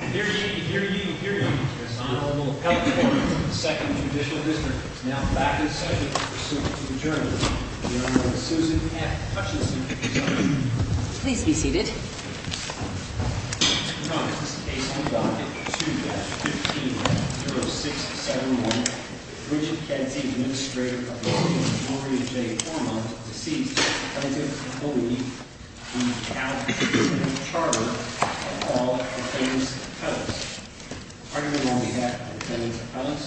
Here you, here you, here you, Ms. Honorable California, Second Judicial District, is now back in session in pursuit of adjournment. The Honorable Susan F. Hutchinson is up. Please be seated. Ms. McCormick, this is a case on Docket 2-15-0671. Bridget Kenti, Administrator of the Home of Hilaria J. Ormond, deceased. The plaintiff will meet in the house of charges of all defendants' appellants. The argument on behalf of the defendants' appellants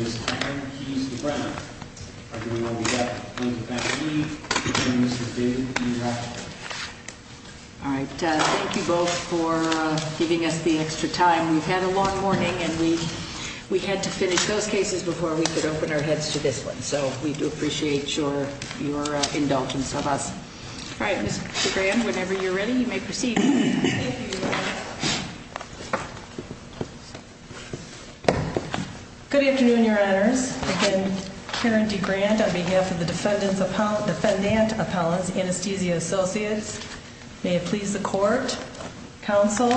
is that he is to brown. The argument on behalf of the plaintiff's family is that he is to red. All right, thank you both for giving us the extra time. We've had a long morning and we had to finish those cases before we could open our heads to this one. So we do appreciate your indulgence of us. All right, Ms. Graham, whenever you're ready, you may proceed. Thank you. Good afternoon, your honors. Again, Karen DeGrant on behalf of the defendants' appellants, Anesthesia Associates, may it please the court, counsel.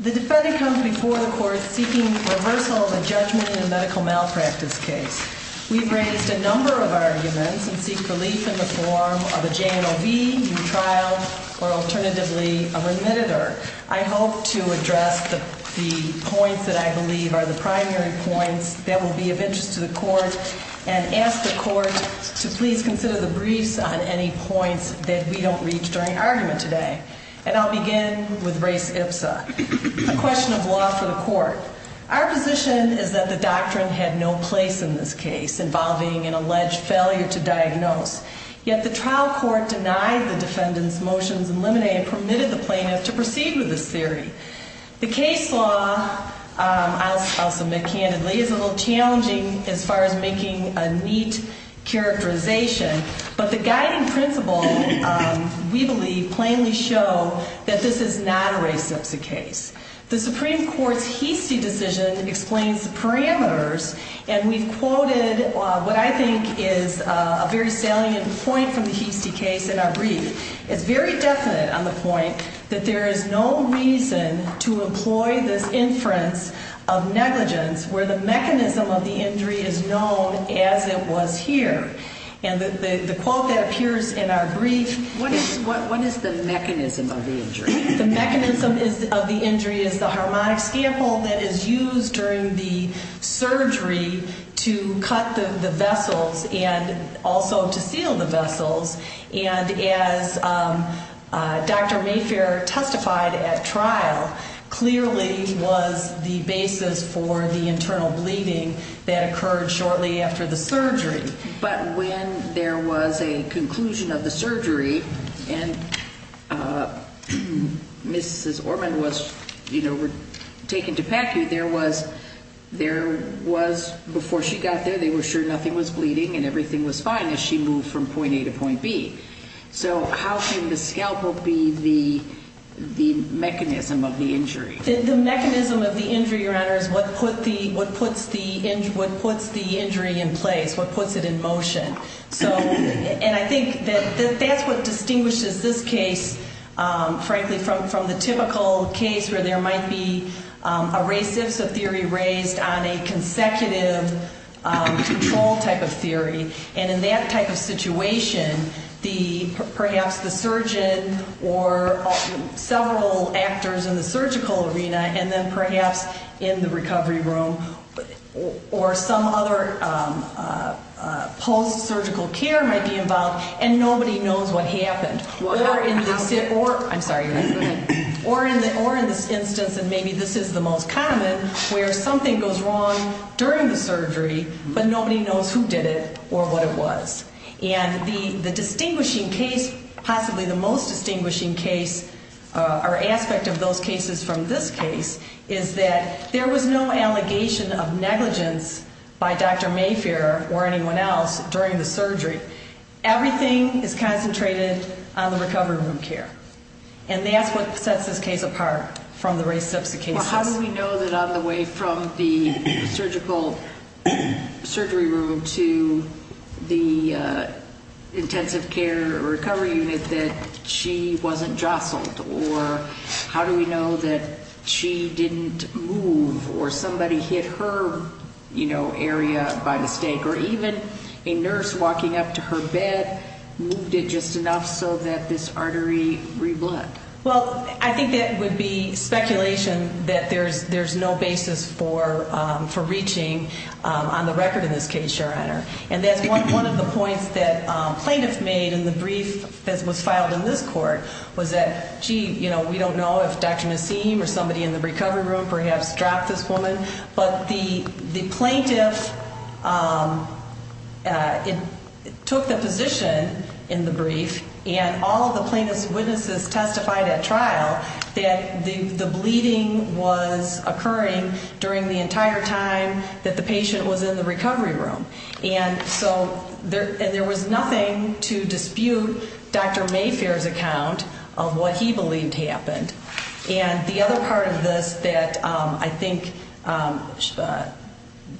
The defendant comes before the court seeking reversal of a judgment in a medical malpractice case. We've raised a number of arguments and seek relief in the form of a JMOB, new trial, or alternatively, a remittitor. I hope to address the points that I believe are the primary points that will be of interest to the court. And ask the court to please consider the briefs on any points that we don't reach during argument today. And I'll begin with race ipsa, a question of law for the court. Our position is that the doctrine had no place in this case involving an alleged failure to diagnose. Yet the trial court denied the defendant's motions in limine and permitted the plaintiff to proceed with this theory. The case law, I'll submit candidly, is a little challenging as far as making a neat characterization. But the guiding principle, we believe, plainly show that this is not a race ipsa case. The Supreme Court's Heastie decision explains the parameters. And we've quoted what I think is a very salient point from the Heastie case in our brief. It's very definite on the point that there is no reason to employ this inference of negligence where the mechanism of the injury is known as it was here. And the quote that appears in our brief. What is the mechanism of the injury? The mechanism of the injury is the harmonic scample that is used during the surgery to cut the vessels and also to seal the vessels. And as Dr. Mayfair testified at trial, clearly was the basis for the internal bleeding that occurred shortly after the surgery. But when there was a conclusion of the surgery and Mrs. Orman was taken to PACU, there was, before she got there, they were sure nothing was bleeding and everything was fine as she moved from point A to point B. So how can the scalpel be the mechanism of the injury? The mechanism of the injury, Your Honor, is what puts the injury in place, what puts it in motion. So, and I think that that's what distinguishes this case, frankly, from the typical case where there might be a theory raised on a consecutive control type of theory. And in that type of situation, perhaps the surgeon or several actors in the surgical arena and then perhaps in the recovery room or some other post-surgical care might be involved and nobody knows what happened. Or in this instance, and maybe this is the most common, where something goes wrong during the surgery, but nobody knows who did it or what it was. And the distinguishing case, possibly the most distinguishing case or aspect of those cases from this case, is that there was no allegation of negligence by Dr. Mayfair or anyone else during the surgery, everything is concentrated on the recovery room care. And that's what sets this case apart from the rest of the cases. So how do we know that on the way from the surgical surgery room to the intensive care recovery unit that she wasn't jostled? Or how do we know that she didn't move or somebody hit her area by mistake? Or even a nurse walking up to her bed moved it just enough so that this artery reblood? Well, I think that would be speculation that there's no basis for reaching on the record in this case, Your Honor. And that's one of the points that plaintiff made in the brief that was filed in this court, was that, gee, we don't know if Dr. Nassim or somebody in the recovery room perhaps dropped this woman. But the plaintiff took the position in the brief, and all of the plaintiff's witnesses testified at trial that the bleeding was occurring during the entire time that the patient was in the recovery room. And so there was nothing to dispute Dr. Mayfair's account of what he believed happened. And the other part of this that I think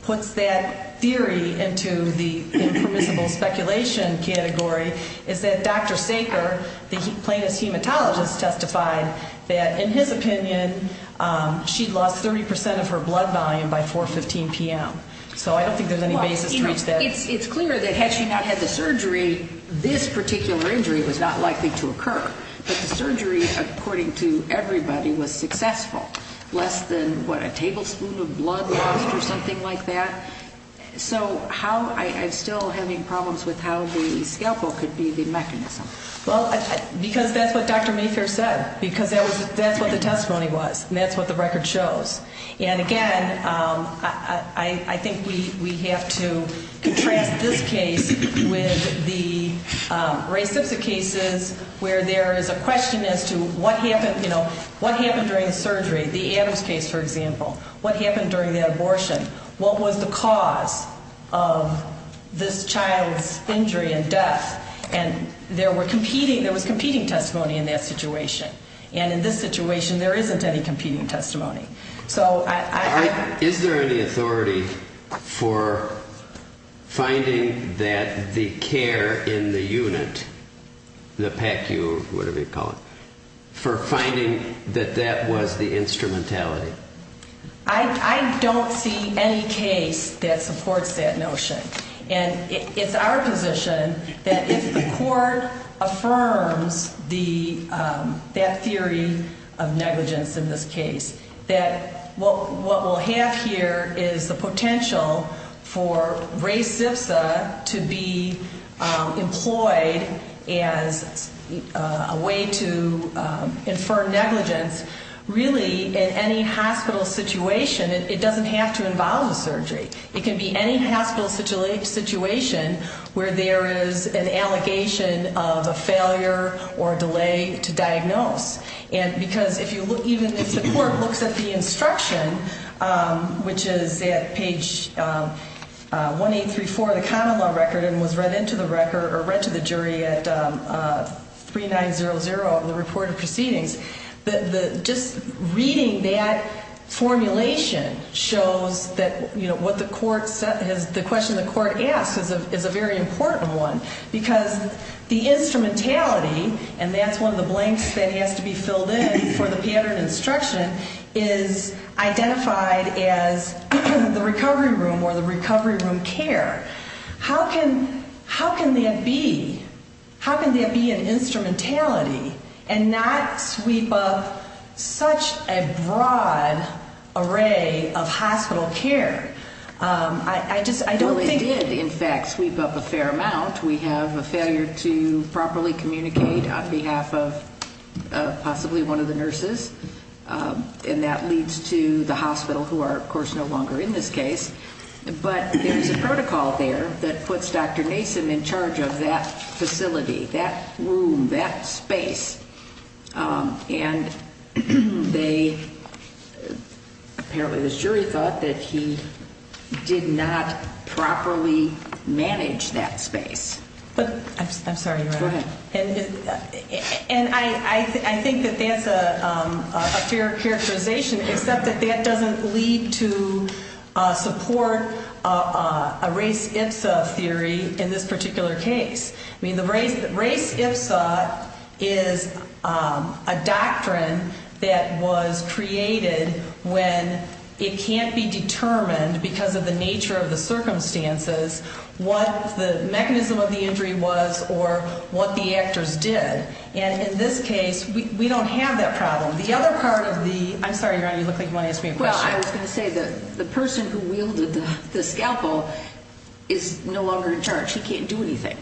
puts that theory into the impermissible speculation category is that Dr. Saker, the plaintiff's hematologist, testified that, in his opinion, she'd lost 30% of her blood volume by 4.15 PM. So I don't think there's any basis to reach that. It's clear that had she not had the surgery, this particular injury was not likely to occur. But the surgery, according to everybody, was successful. Less than, what, a tablespoon of blood lost or something like that? So how, I'm still having problems with how the scalpel could be the mechanism. Well, because that's what Dr. Mayfair said. Because that's what the testimony was, and that's what the record shows. And again, I think we have to contrast this case with the race of the cases, where there is a question as to what happened during the surgery. The Adams case, for example. What happened during the abortion? What was the cause of this child's injury and death? And there was competing testimony in that situation. And in this situation, there isn't any competing testimony. So I- Is there any authority for finding that the care in the unit, the PECU, whatever you call it, for finding that that was the instrumentality? I don't see any case that supports that notion. And it's our position that if the court affirms that theory of negligence in this case, that what we'll have here is the potential for any hospital situation, it doesn't have to involve a surgery. It can be any hospital situation where there is an allegation of a failure or a delay to diagnose. And because even if the court looks at the instruction, which is at page 1834 of the common law record, and was read into the record, or read to the jury at 3900 of the report of proceedings. Just reading that formulation shows that what the court has, the question the court asks is a very important one. Because the instrumentality, and that's one of the blanks that has to be filled in for the pattern instruction, is identified as the recovery room or the recovery room care. How can that be? An instrumentality, and not sweep up such a broad array of hospital care. I just, I don't think- Well, it did, in fact, sweep up a fair amount. We have a failure to properly communicate on behalf of possibly one of the nurses. And that leads to the hospital, who are, of course, no longer in this case. But there's a protocol there that puts Dr. Nason in charge of that facility. That room, that space. And they, apparently the jury thought that he did not properly manage that space. But, I'm sorry, Your Honor. Go ahead. And I think that that's a fair characterization, except that that doesn't lead to support a race-its-a theory in this particular case. Race-its-a is a doctrine that was created when it can't be determined, because of the nature of the circumstances, what the mechanism of the injury was or what the actors did. And in this case, we don't have that problem. The other part of the, I'm sorry, Your Honor, you look like you want to ask me a question. Well, I was going to say that the person who wielded the scalpel is no longer in charge. She can't do anything.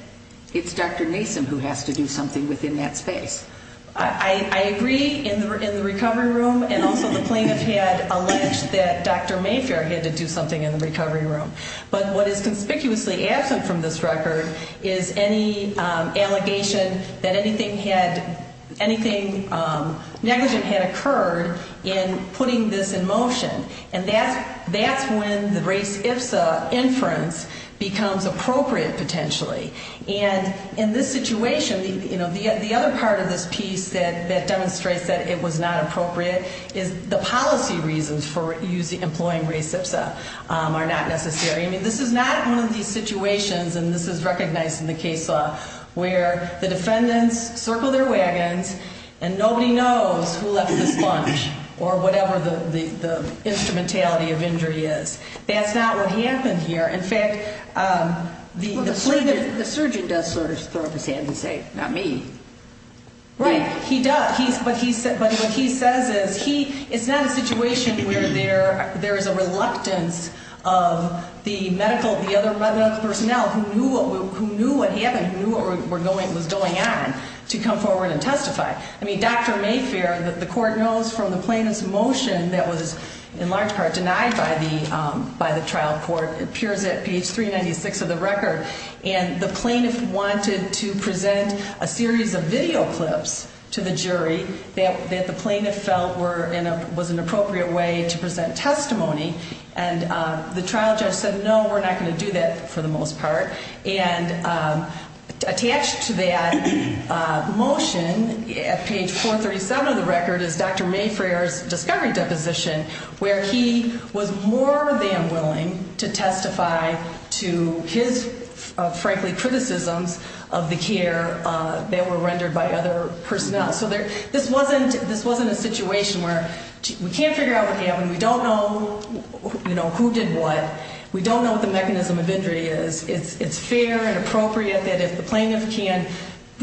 It's Dr. Nason who has to do something within that space. I agree in the recovery room, and also the plaintiff had alleged that Dr. Mayfair had to do something in the recovery room. But what is conspicuously absent from this record is any allegation that anything had, anything negligent had occurred in putting this in motion. And that's when the race-its-a inference becomes appropriate, potentially. And in this situation, the other part of this piece that demonstrates that it was not appropriate is the policy reasons for employing race-its-a are not necessary. I mean, this is not one of these situations, and this is recognized in the case law, where the defendants circle their wagons, and nobody knows who left the sponge, or whatever the instrumentality of injury is. That's not what happened here. In fact, the plaintiff- The surgeon does sort of throw up his hands and say, not me. Right, he does, but what he says is, it's not a situation where there is a reluctance of the medical personnel who knew what happened, who knew what was going on, to come forward and testify. I mean, Dr. Mayfair, the court knows from the plaintiff's motion that was, in large part, denied by the trial court, appears at page 396 of the record. And the plaintiff wanted to present a series of video clips to the jury that the plaintiff felt was an appropriate way to present testimony. And the trial judge said, no, we're not going to do that, for the most part. And attached to that motion, at page 437 of the record, is Dr. Mayfair's discovery deposition, where he was more than willing to testify to his, frankly, criticisms of the care that were rendered by other personnel. So this wasn't a situation where we can't figure out what happened, we don't know who did what, we don't know what the mechanism of injury is. It's fair and appropriate that if the plaintiff can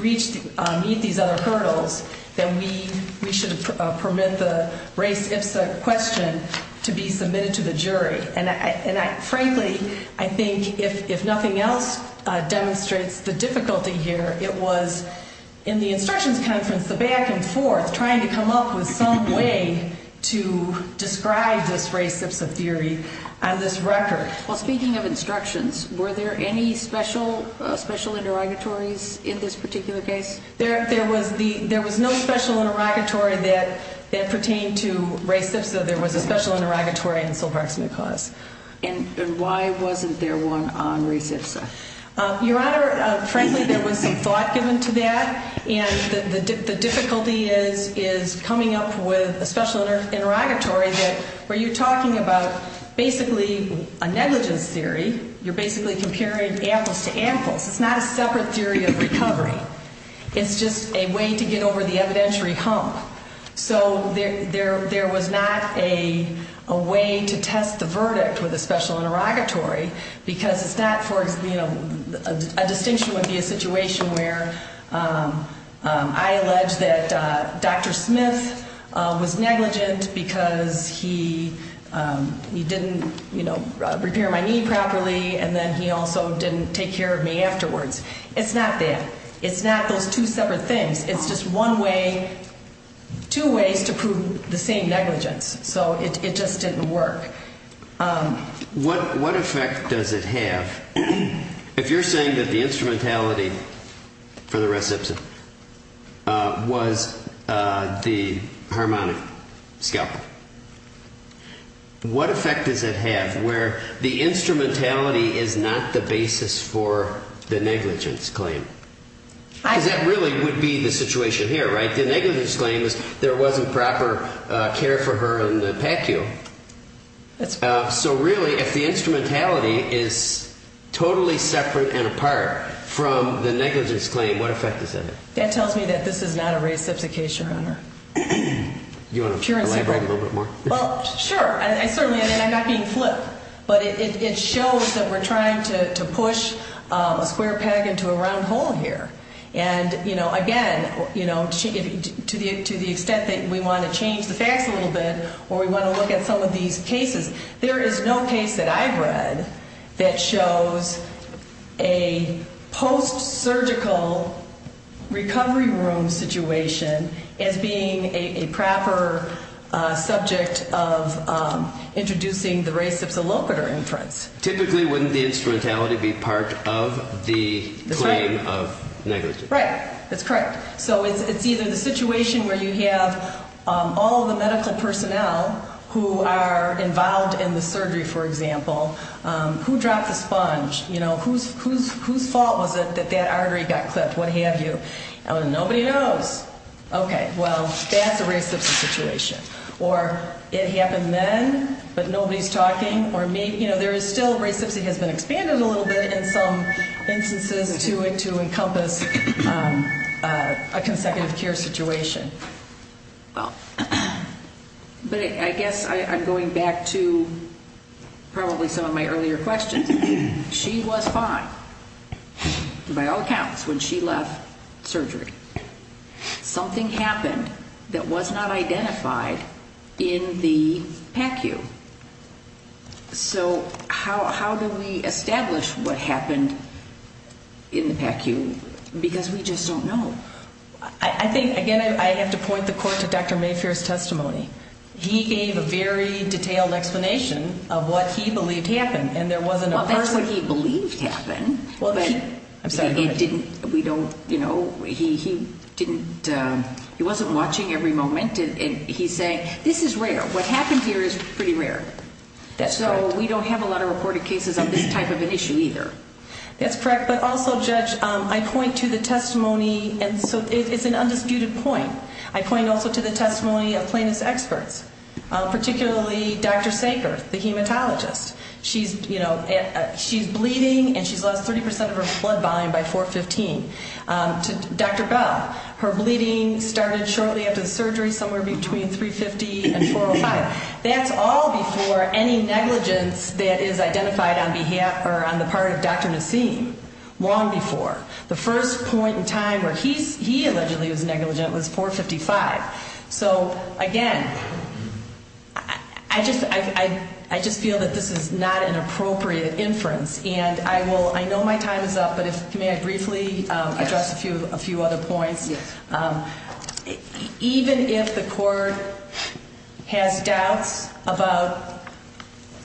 meet these other hurdles, that we should permit the race ipsa question to be submitted to the jury. And frankly, I think if nothing else demonstrates the difficulty here, it was in the instructions conference, the back and forth, trying to come up with some way to describe this race ipsa theory on this record. Well, speaking of instructions, were there any special interrogatories in this particular case? There was no special interrogatory that pertained to race ipsa. There was a special interrogatory in the Silver Axman cause. And why wasn't there one on race ipsa? Your Honor, frankly, there was some thought given to that. And the difficulty is coming up with a special interrogatory where you're talking about basically a negligence theory. You're basically comparing apples to apples. It's not a separate theory of recovery. It's just a way to get over the evidentiary hump. So there was not a way to test the verdict with a special interrogatory. Because it's not for, you know, a distinction would be a situation where I allege that Dr. Smith was negligent because he didn't, you know, repair my knee properly. And then he also didn't take care of me afterwards. It's not that. It's not those two separate things. It's just one way, two ways to prove the same negligence. So it just didn't work. What effect does it have if you're saying that the instrumentality for the race ipsa was the harmonic scalpel? What effect does it have where the instrumentality is not the basis for the negligence claim? Because that really would be the situation here, right? The negligence claim is there wasn't proper care for her in the PACU. So really, if the instrumentality is totally separate and apart from the negligence claim, what effect does that have? That tells me that this is not a race ipsa case, Your Honor. You want to elaborate a little bit more? Well, sure. I certainly, and I'm not being flip. But it shows that we're trying to push a square peg into a round hole here. And, you know, again, you know, to the extent that we want to change the facts a little bit or we want to look at some of these cases, there is no case that I've read that shows a post-surgical recovery room situation as being a proper subject of introducing the race ipsa locator inference. Typically, wouldn't the instrumentality be part of the claim of negligence? Right. That's correct. So it's either the situation where you have all the medical personnel who are involved in the surgery, for example, who dropped the sponge, you know, whose fault was it that that artery got clipped, what have you? Nobody knows. Okay. Well, that's a race ipsa situation. Or it happened then, but nobody's talking. Or maybe, you know, there is still race ipsa has been expanded a little bit in some instances to encompass a consecutive care situation. Well, but I guess I'm going back to probably some of my earlier questions. She was fine, by all accounts, when she left surgery. Something happened that was not identified in the PACU. So how do we establish what happened in the PACU? Because we just don't know. I think, again, I have to point the court to Dr. Mayfair's testimony. He gave a very detailed explanation of what he believed happened, and there wasn't a person. Well, that's what he believed happened. Well, he, I'm sorry, go ahead. We don't, you know, he didn't, he wasn't watching every moment. And he's saying, this is rare. What happened here is pretty rare. So we don't have a lot of reported cases on this type of an issue either. That's correct. But also, Judge, I point to the testimony, and so it's an undisputed point. I point also to the testimony of plaintiff's experts, particularly Dr. Sankar, the hematologist. She's, you know, she's bleeding, and she's lost 30% of her blood volume by 4-15. To Dr. Bell, her bleeding started shortly after the surgery, somewhere between 350 and 405. That's all before any negligence that is identified on behalf, or on the part of Dr. Nassim, long before. The first point in time where he allegedly was negligent was 4-55. So again, I just feel that this is not an appropriate inference. And I will, I know my time is up, but if, may I briefly address a few other points? Yes. Even if the court has doubts about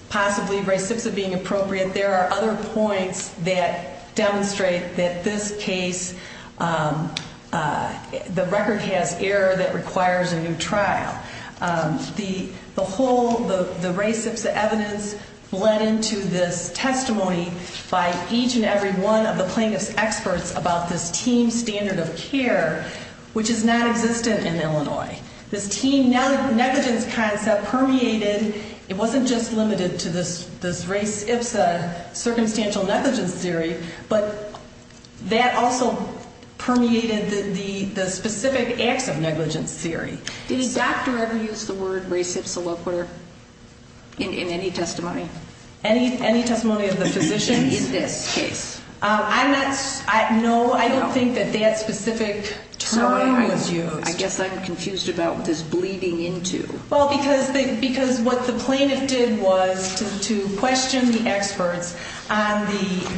possibly racepsa being appropriate, there are other points that demonstrate that this case, the record has error that requires a new trial. The whole, the racepsa evidence bled into this testimony by each and every one of the plaintiff's experts about this team standard of care, which is nonexistent in Illinois. This team negligence concept permeated, it wasn't just limited to this racepsa circumstantial negligence theory, but that also permeated the specific acts of negligence theory. Did a doctor ever use the word racepsa loquitur in any testimony? Any testimony of the physician? In this case. I'm not, no, I don't think that that specific term was used. I guess I'm confused about what this bleeding into. Well, because what the plaintiff did was to question the experts on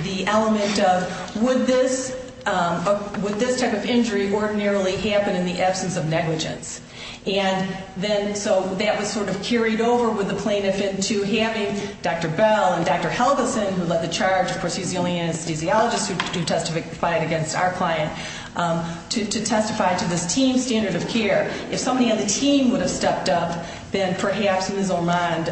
the element of, would this type of injury ordinarily happen in the absence of negligence? And then, so that was sort of carried over with the plaintiff into having Dr. Bell and Dr. Helgeson, who led the charge, of course he's the only anesthesiologist who testified against our client, to testify to this team standard of care. If somebody on the team would have stepped up, then perhaps Ms. Ormond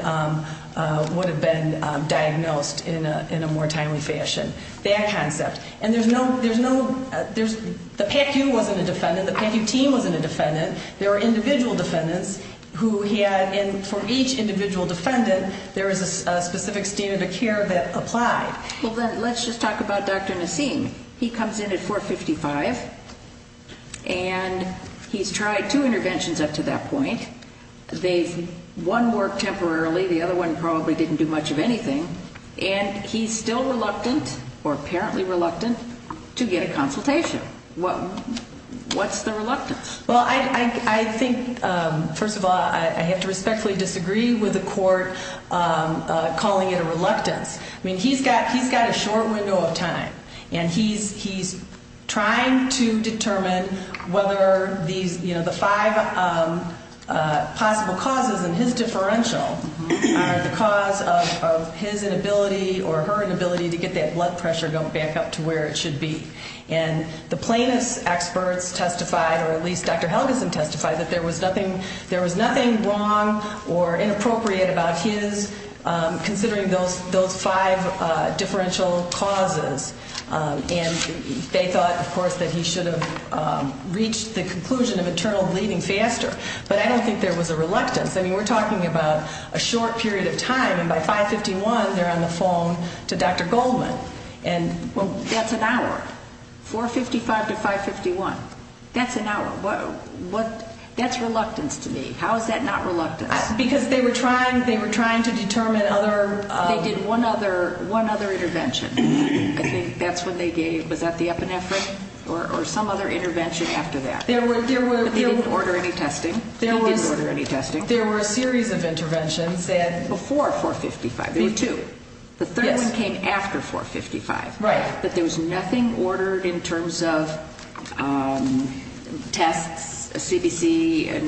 would have been diagnosed in a more timely fashion. That concept. And there's no, there's no, the PACU wasn't a defendant, the PACU team wasn't a defendant. There were individual defendants who had, and for each individual defendant, there was a specific standard of care that applied. Well then, let's just talk about Dr. Nassim. He comes in at 455, and he's tried two interventions up to that point. They've, one worked temporarily, the other one probably didn't do much of anything. And he's still reluctant, or apparently reluctant, to get a consultation. What's the reluctance? Well, I think, first of all, I have to respectfully disagree with the court calling it a reluctance. I mean, he's got a short window of time. And he's trying to determine whether these, the five possible causes in his differential are the cause of his inability or her inability to get that blood pressure going back up to where it should be. And the plaintiff's experts testified, or at least Dr. Helgeson testified, that there was nothing wrong or inappropriate about his considering those five differential causes. And they thought, of course, that he should have reached the conclusion of internal bleeding faster. But I don't think there was a reluctance. I mean, we're talking about a short period of time, and by 551, they're on the phone to Dr. Goldman. And- Well, that's an hour. 455 to 551, that's an hour. That's reluctance to me. How is that not reluctance? Because they were trying to determine other- They did one other intervention. I think that's when they gave, was that the epinephrine? Or some other intervention after that? But they didn't order any testing. They didn't order any testing. There were a series of interventions that- Before 455, there were two. The third one came after 455. Right. But there was nothing ordered in terms of tests, CDC,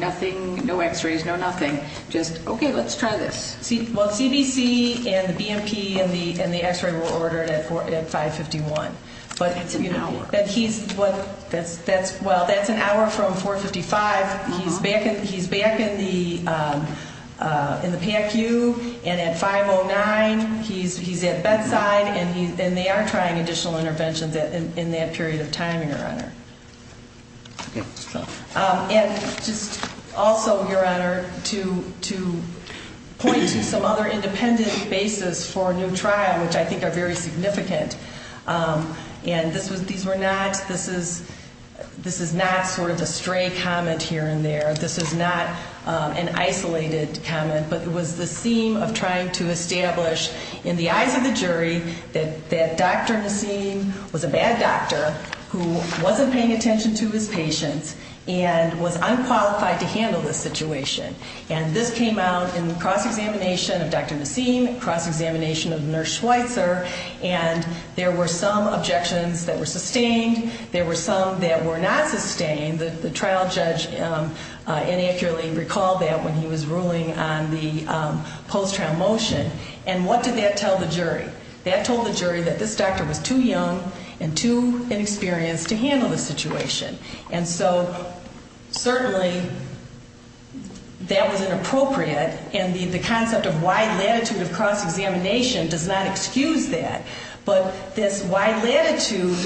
nothing, no x-rays, no nothing. Just, okay, let's try this. Well, CDC and the BMP and the x-ray were ordered at 551. But he's, well, that's an hour from 455. He's back in the PACU, and at 509, he's at bedside, and they are trying additional interventions in that period of time, Your Honor. Okay, so- And just also, Your Honor, to point to some other independent basis for a new trial, which I think are very significant, and this was, these were not, this is, this is not sort of a stray comment here and there. This is not an isolated comment, but it was the scene of trying to establish in the eyes of the jury that Dr. Nassim was a bad doctor who wasn't paying attention to his patients and was unqualified to handle this situation. And this came out in the cross-examination of Dr. Nassim, cross-examination of Nurse Schweitzer, and there were some objections that were sustained. There were some that were not sustained. The trial judge inaccurately recalled that when he was ruling on the post-trial motion. And what did that tell the jury? That told the jury that this doctor was too young and too inexperienced to handle the situation. And so, certainly, that was inappropriate, and the concept of wide latitude of cross-examination does not excuse that. But this wide latitude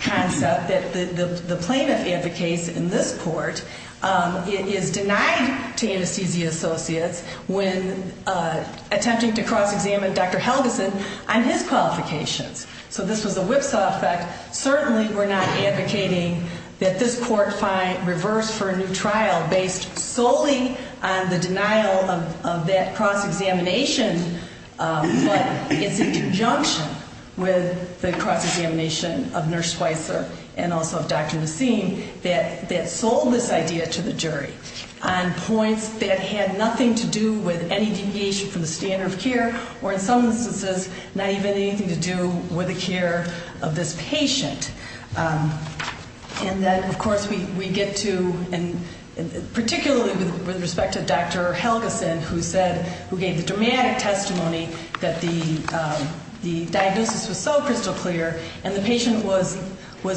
concept that the plaintiff advocates in this court is denied to anesthesia associates when attempting to cross-examine Dr. Helgeson on his qualifications. So, this was a whipsaw effect. Certainly, we're not advocating that this court reverse for a new trial based solely on the denial of that cross-examination, but it's in conjunction with the cross-examination of Nurse Schweitzer and also of Dr. Nassim that sold this idea to the jury on points that had nothing to do with any deviation from the standard of care, or in some instances, not even anything to do with the care of this patient. And then, of course, we get to, and particularly with respect to Dr. Helgeson who said, who gave the dramatic testimony that the diagnosis was so crystal clear, and the patient was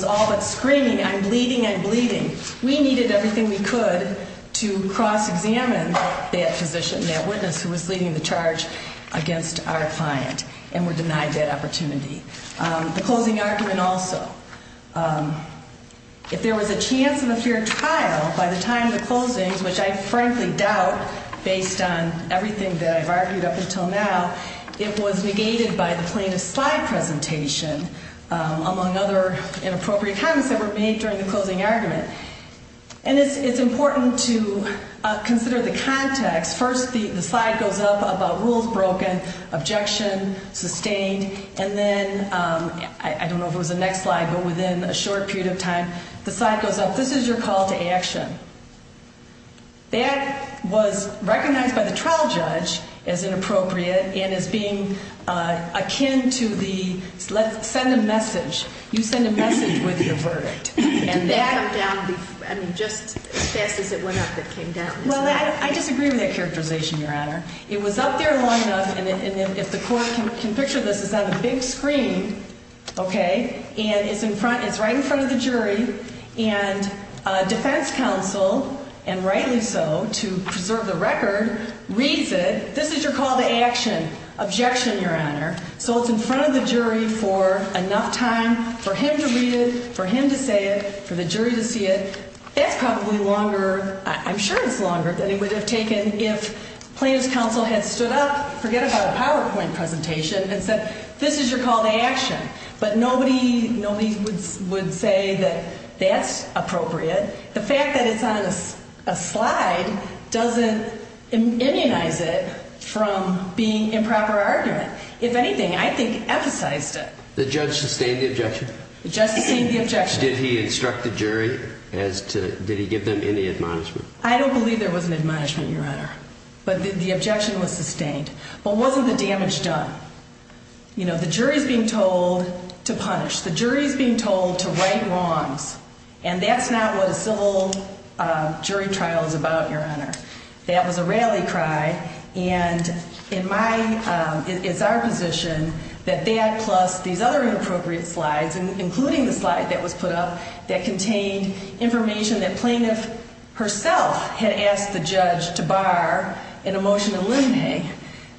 all but screaming, I'm bleeding, I'm bleeding. We needed everything we could to cross-examine that physician, that witness who was leading the charge against our client and were denied that opportunity. The closing argument also, if there was a chance of a fair trial by the time of the closings, which I frankly doubt based on everything that I've argued up until now, it was negated by the plaintiff's slide presentation, among other inappropriate comments that were made during the closing argument. And it's important to consider the context. First, the slide goes up about rules broken, objection sustained, and then, I don't know if it was the next slide, but within a short period of time, the slide goes up, this is your call to action. That was recognized by the trial judge as inappropriate and as being akin to the, send a message. You send a message with your verdict. And that- Did that come down before, I mean, just as fast as it went up, it came down? Well, I disagree with that characterization, Your Honor. It was up there long enough, and if the court can picture this, it's on the big screen, okay? And it's in front, it's right in front of the jury, and defense counsel, and rightly so, to preserve the record, reads it, this is your call to action, objection, Your Honor. So it's in front of the jury for enough time for him to read it, for him to say it, for the jury to see it. That's probably longer, I'm sure it's longer than it would have taken if plaintiff's counsel had stood up, forget about a PowerPoint presentation, and said, this is your call to action. But nobody would say that that's appropriate. The fact that it's on a slide doesn't immunize it from being improper argument. If anything, I think, emphasized it. The judge sustained the objection? The judge sustained the objection. Did he instruct the jury as to, did he give them any admonishment? I don't believe there was an admonishment, Your Honor. But the objection was sustained. But wasn't the damage done? You know, the jury's being told to punish. The jury's being told to right wrongs. And that's not what a civil jury trial is about, Your Honor. That was a rally cry. And it's our position that that, plus these other inappropriate slides, including the slide that was put up, that contained information that plaintiff herself had asked the judge to bar in a motion to eliminate.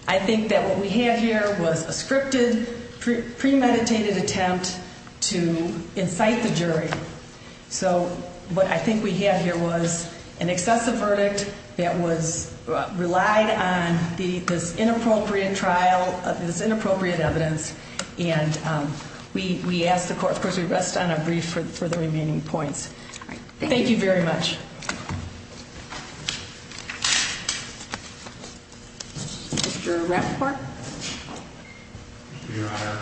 I think that what we have here was a scripted, premeditated attempt to incite the jury. So what I think we have here was an excessive verdict that was relied on this inappropriate trial of this inappropriate evidence. And we ask the court, of course, we rest on our brief for the remaining points. Thank you very much. Mr. Rappaport. Thank you, Your Honor.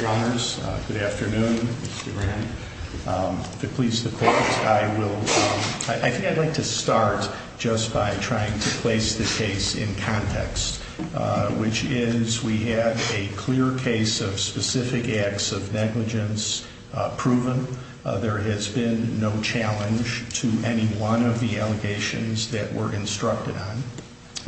Your Honors, good afternoon. Mr. Brown. If it pleases the court, I think I'd like to start just by trying to place the case in context. Which is, we have a clear case of specific acts of negligence proven. There has been no challenge to any one of the allegations that were instructed on.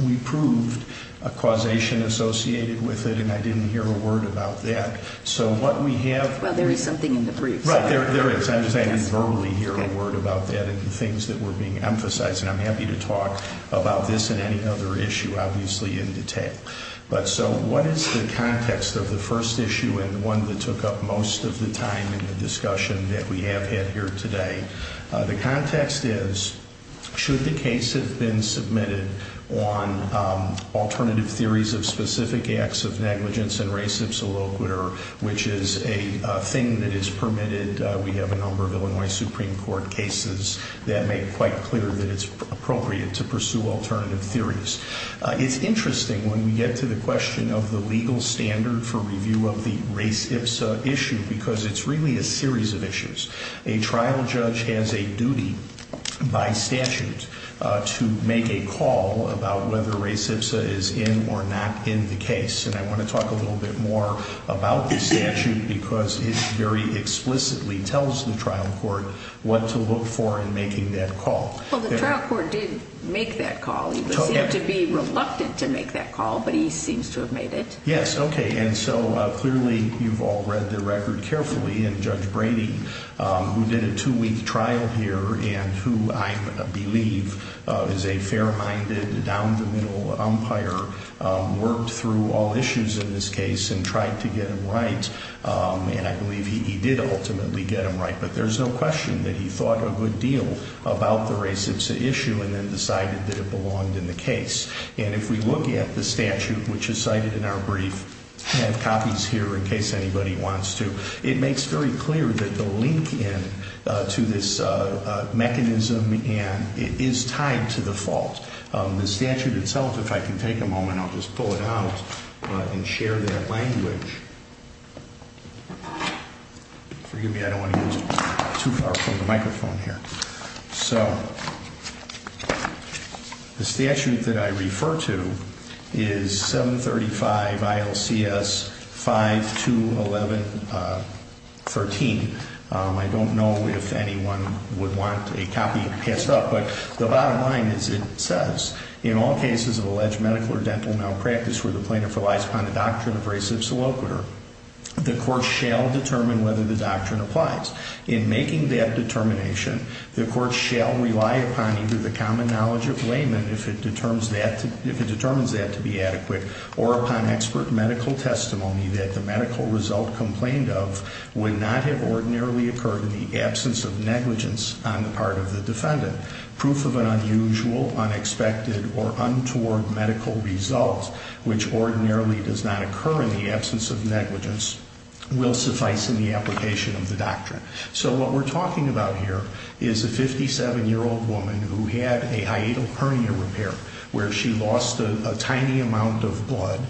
We proved a causation associated with it, and I didn't hear a word about that. So what we have- Well, there is something in the brief. Right, there is. I'm just saying I didn't verbally hear a word about that and the things that were being emphasized. And I'm happy to talk about this and any other issue, obviously, in detail. But so, what is the context of the first issue and the one that took up most of the time in the discussion that we have had here today? The context is, should the case have been submitted on alternative theories of specific acts of negligence and res ipsa loquitur, which is a thing that is permitted. We have a number of Illinois Supreme Court cases that make quite clear that it's appropriate to pursue alternative theories. It's interesting when we get to the question of the legal standard for review of the res ipsa issue, because it's really a series of issues. A trial judge has a duty by statute to make a call about whether res ipsa is in or not in the case. And I want to talk a little bit more about the statute, because it very explicitly tells the trial court what to look for in making that call. Well, the trial court did make that call. He would seem to be reluctant to make that call, but he seems to have made it. Yes, okay, and so clearly, you've all read the record carefully. And Judge Brady, who did a two-week trial here, and who I believe is a fair-minded, down-the-middle umpire, worked through all issues in this case and tried to get them right. And I believe he did ultimately get them right. But there's no question that he thought a good deal about the res ipsa issue and then decided that it belonged in the case. And if we look at the statute, which is cited in our brief, I have copies here in case anybody wants to. It makes very clear that the link in to this mechanism is tied to the fault. The statute itself, if I can take a moment, I'll just pull it out and share that language. Forgive me, I don't want to go too far from the microphone here. So, the statute that I refer to is 735 ILCS 5211.13. I don't know if anyone would want a copy passed up, but the bottom line is it says, In all cases of alleged medical or dental malpractice where the plaintiff relies upon the doctrine of res ipsa loquitur, the court shall determine whether the doctrine applies. In making that determination, the court shall rely upon either the common knowledge of layman, if it determines that to be adequate, or upon expert medical testimony that the medical result complained of would not have ordinarily occurred in the absence of negligence on the part of the defendant. Proof of an unusual, unexpected, or untoward medical result, which ordinarily does not occur in the absence of negligence, will suffice in the application of the doctrine. So what we're talking about here is a 57 year old woman who had a hiatal hernia repair, where she lost a tiny amount of blood,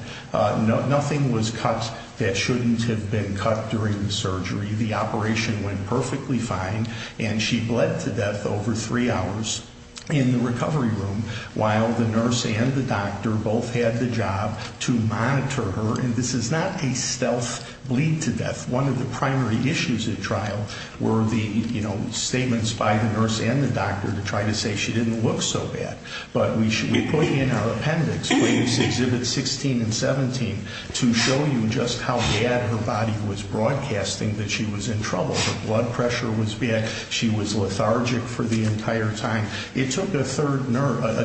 nothing was cut that shouldn't have been cut during the surgery. The operation went perfectly fine, and she bled to death over three hours in the recovery room, while the nurse and the doctor both had the job to monitor her. And this is not a stealth bleed to death. One of the primary issues at trial were the statements by the nurse and the doctor to try to say she didn't look so bad. But we put in our appendix, please exhibit 16 and 17, to show you just how bad her body was broadcasting that she was in trouble. Her blood pressure was bad, she was lethargic for the entire time. It took a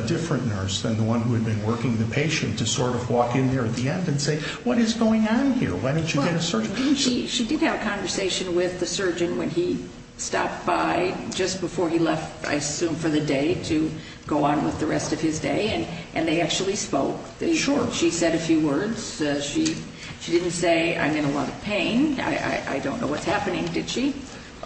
different nurse than the one who had been working the patient to sort of walk in there at the end and say, what is going on here? Why don't you get a surgeon? She did have a conversation with the surgeon when he stopped by just before he left, I assume for the day, to go on with the rest of his day, and they actually spoke. Sure. She said a few words. She didn't say, I'm in a lot of pain, I don't know what's happening, did she?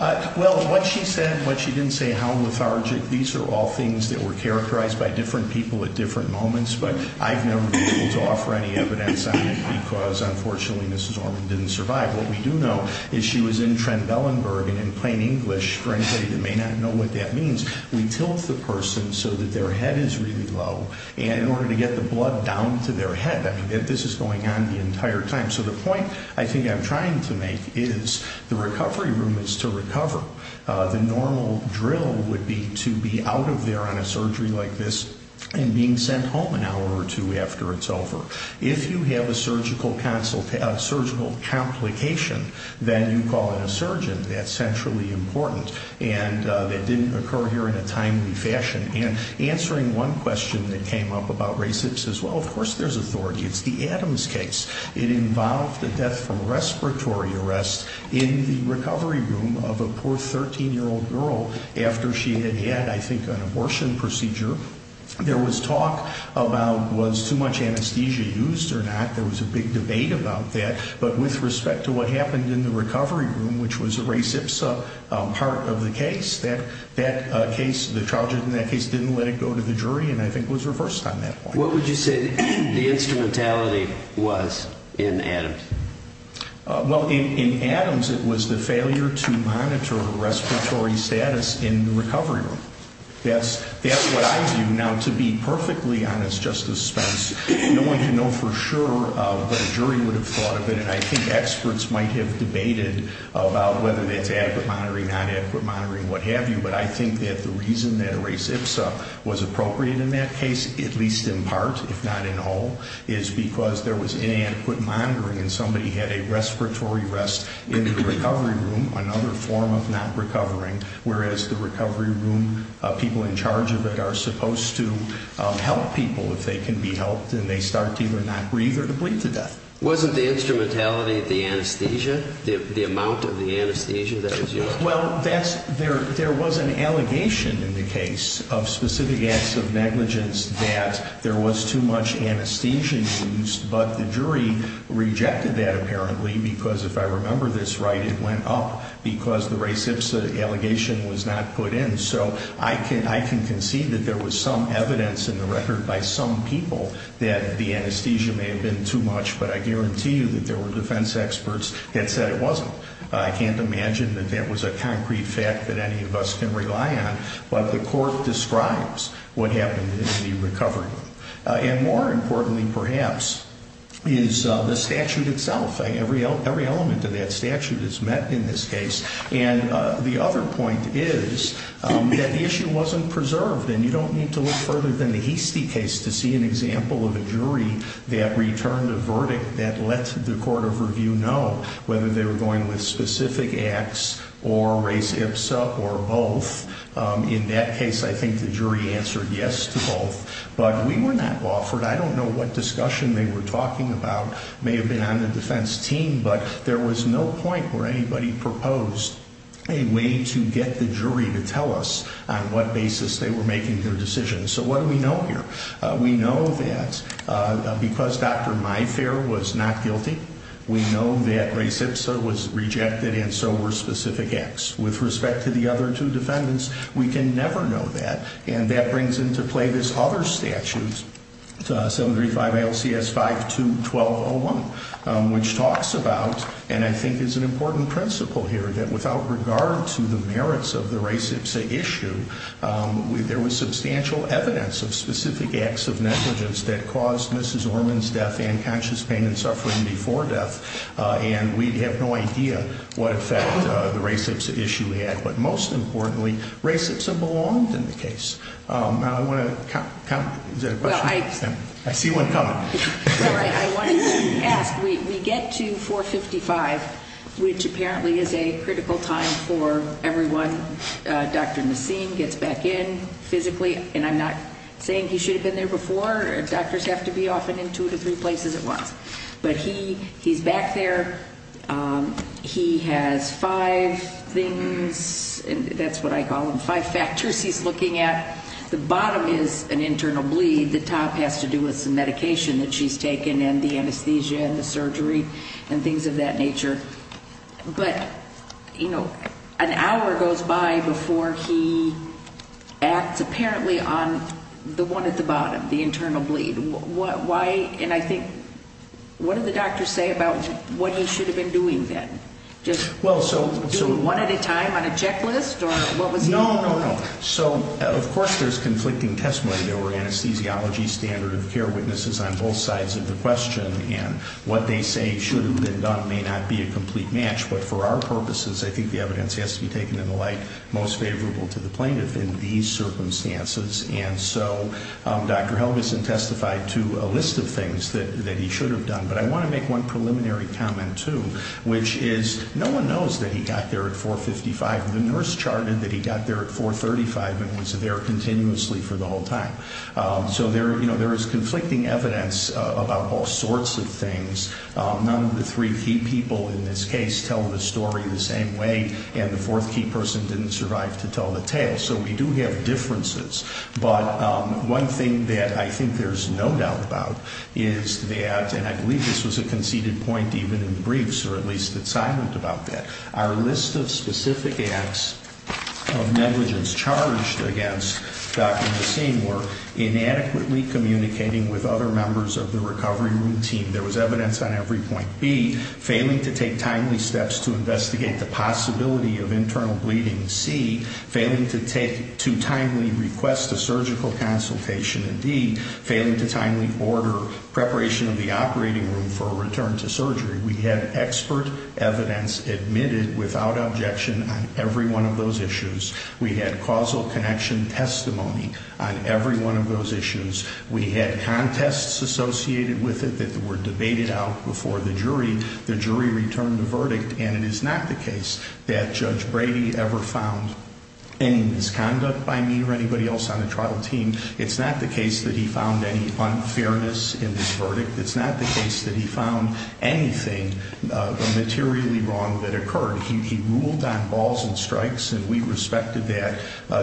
Well, what she said, what she didn't say, how lethargic, these are all things that were characterized by different people at different moments. But I've never been able to offer any evidence on it, because unfortunately, Mrs. Orman didn't survive. What we do know is she was in Trent Bellenburg, and in plain English, for anybody that may not know what that means, we tilt the person so that their head is really low, and we're going to get the blood down to their head. I mean, this is going on the entire time. So the point I think I'm trying to make is the recovery room is to recover. The normal drill would be to be out of there on a surgery like this and being sent home an hour or two after it's over. If you have a surgical complication, then you call in a surgeon. That's centrally important, and that didn't occur here in a timely fashion. And answering one question that came up about race, it says, well, of course there's authority. It's the Adams case. It involved a death from respiratory arrest in the recovery room of a poor 13-year-old girl after she had had, I think, an abortion procedure. There was talk about was too much anesthesia used or not. There was a big debate about that. But with respect to what happened in the recovery room, which was a race-IPSA part of the case, that case, the charges in that case didn't let it go to the jury, and I think was reversed on that point. What would you say the instrumentality was in Adams? Well, in Adams, it was the failure to monitor respiratory status in the recovery room. That's what I view. Now, to be perfectly honest, Justice Spence, no one can know for sure what a jury would have thought of it. And I think experts might have debated about whether that's adequate monitoring, not adequate monitoring, what have you. But I think that the reason that a race-IPSA was appropriate in that case, at least in part, if not in whole, is because there was inadequate monitoring and somebody had a respiratory arrest in the recovery room, another form of not recovering. Whereas the recovery room, people in charge of it are supposed to help people if they can be helped. And they start to either not breathe or to bleed to death. Wasn't the instrumentality the anesthesia, the amount of the anesthesia that was used? Well, there was an allegation in the case of specific acts of negligence that there was too much anesthesia used. But the jury rejected that apparently, because if I remember this right, it went up because the race-IPSA allegation was not put in. So I can concede that there was some evidence in the record by some people that the anesthesia may have been too much, but I guarantee you that there were defense experts that said it wasn't. I can't imagine that that was a concrete fact that any of us can rely on. But the court describes what happened in the recovery room. And more importantly, perhaps, is the statute itself. Every element of that statute is met in this case. And the other point is that the issue wasn't preserved. And you don't need to look further than the Heastie case to see an example of a jury that returned a verdict that let the court of review know whether they were going with specific acts or race-IPSA or both. In that case, I think the jury answered yes to both. But we were not offered, I don't know what discussion they were talking about, may have been on the defense team, but there was no point where anybody proposed a way to get the jury to tell us on what basis they were making their decision. So what do we know here? We know that because Dr. Mifare was not guilty, we know that race-IPSA was rejected and so were specific acts. With respect to the other two defendants, we can never know that. And that brings into play this other statute, 735 LCS 521201, which talks about, and I think is an important principle here, that without regard to the merits of the race-IPSA issue, there was substantial evidence of specific acts of negligence that caused Mrs. Orman's death and conscious pain and suffering before death, and we'd have no idea what effect the race-IPSA issue had. But most importantly, race-IPSA belonged in the case. Now I want to, is there a question? I see one coming. I wanted to ask, we get to 455, which apparently is a critical time for everyone. Dr. Nassim gets back in physically, and I'm not saying he should have been there before. Doctors have to be often in two to three places at once. But he's back there, he has five things, and that's what I call them, five factors he's looking at. The bottom is an internal bleed, the top has to do with some medication that she's taken, and the anesthesia, and the surgery, and things of that nature. But an hour goes by before he acts apparently on the one at the bottom, the internal bleed. What, why, and I think, what do the doctors say about what he should have been doing then? Just doing one at a time on a checklist, or what was he- No, no, no, so of course there's conflicting testimony. There were anesthesiology standard of care witnesses on both sides of the question, and what they say should have been done may not be a complete match. But for our purposes, I think the evidence has to be taken in the light most favorable to the plaintiff in these circumstances. And so Dr. Helgason testified to a list of things that he should have done. But I want to make one preliminary comment too, which is no one knows that he got there at 455. The nurse charted that he got there at 435 and was there continuously for the whole time. So there is conflicting evidence about all sorts of things. None of the three key people in this case tell the story the same way, and the fourth key person didn't survive to tell the tale. So we do have differences, but one thing that I think there's no doubt about is that, and I believe this was a conceded point even in the briefs, or at least it's silent about that. Our list of specific acts of negligence charged against Dr. Helgason were inadequately communicating with other members of the recovery room team. There was evidence on every point B, failing to take timely steps to investigate the possibility of internal bleeding. C, failing to timely request a surgical consultation. And D, failing to timely order preparation of the operating room for a return to surgery. We had expert evidence admitted without objection on every one of those issues. We had causal connection testimony on every one of those issues. We had contests associated with it that were debated out before the jury. The jury returned the verdict, and it is not the case that Judge Brady ever found any misconduct by me or anybody else on the trial team. It's not the case that he found any unfairness in this verdict. It's not the case that he found anything materially wrong that occurred. He ruled on balls and strikes, and we respected that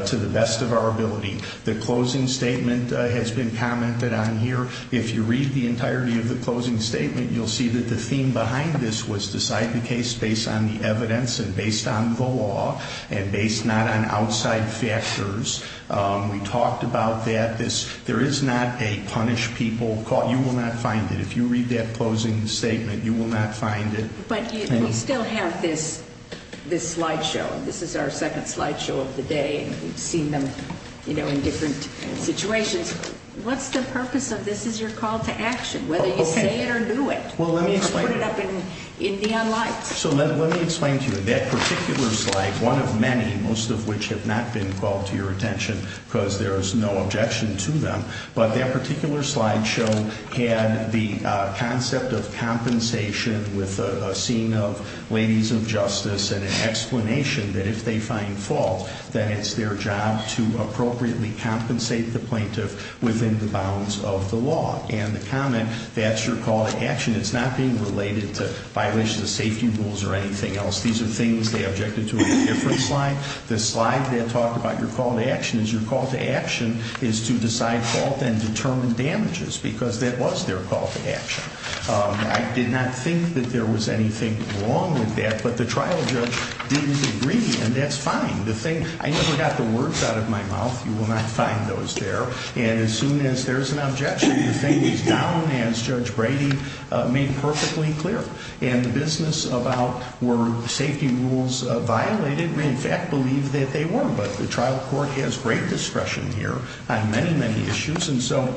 to the best of our ability. The closing statement has been commented on here. If you read the entirety of the closing statement, you'll see that the theme behind this was decide the case based on the evidence and based on the law, and based not on outside factors. We talked about that. There is not a punish people, you will not find it. If you read that closing statement, you will not find it. But we still have this slide show. This is our second slide show of the day, and we've seen them in different situations. What's the purpose of this? This is your call to action, whether you say it or do it. We'll put it up in neon lights. So let me explain to you, that particular slide, one of many, most of which have not been called to your attention, because there is no objection to them, but that particular slide show had the concept of compensation with a scene of ladies of justice and an explanation that if they find fault, that it's their job to appropriately compensate the plaintiff within the bounds of the law. And the comment, that's your call to action, it's not being related to violations of safety rules or anything else. These are things they objected to in a different slide. The slide that talked about your call to action is your call to action is to decide fault and determine damages, because that was their call to action. I did not think that there was anything wrong with that, but the trial judge didn't agree, and that's fine. The thing, I never got the words out of my mouth, you will not find those there. And as soon as there's an objection, the thing is down, as Judge Brady made perfectly clear. And the business about were safety rules violated, we in fact believe that they were. But the trial court has great discretion here on many, many issues, and so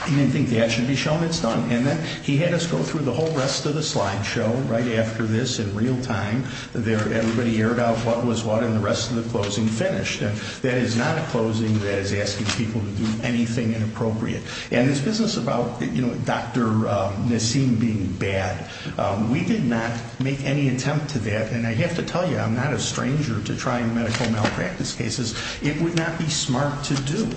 I didn't think that should be shown, it's done. And then he had us go through the whole rest of the slide show right after this in real time. Everybody aired out what was what, and the rest of the closing finished. That is not a closing that is asking people to do anything inappropriate. And this business about Dr. Nassim being bad, we did not make any attempt to that. And I have to tell you, I'm not a stranger to trying medical malpractice cases. It would not be smart to do.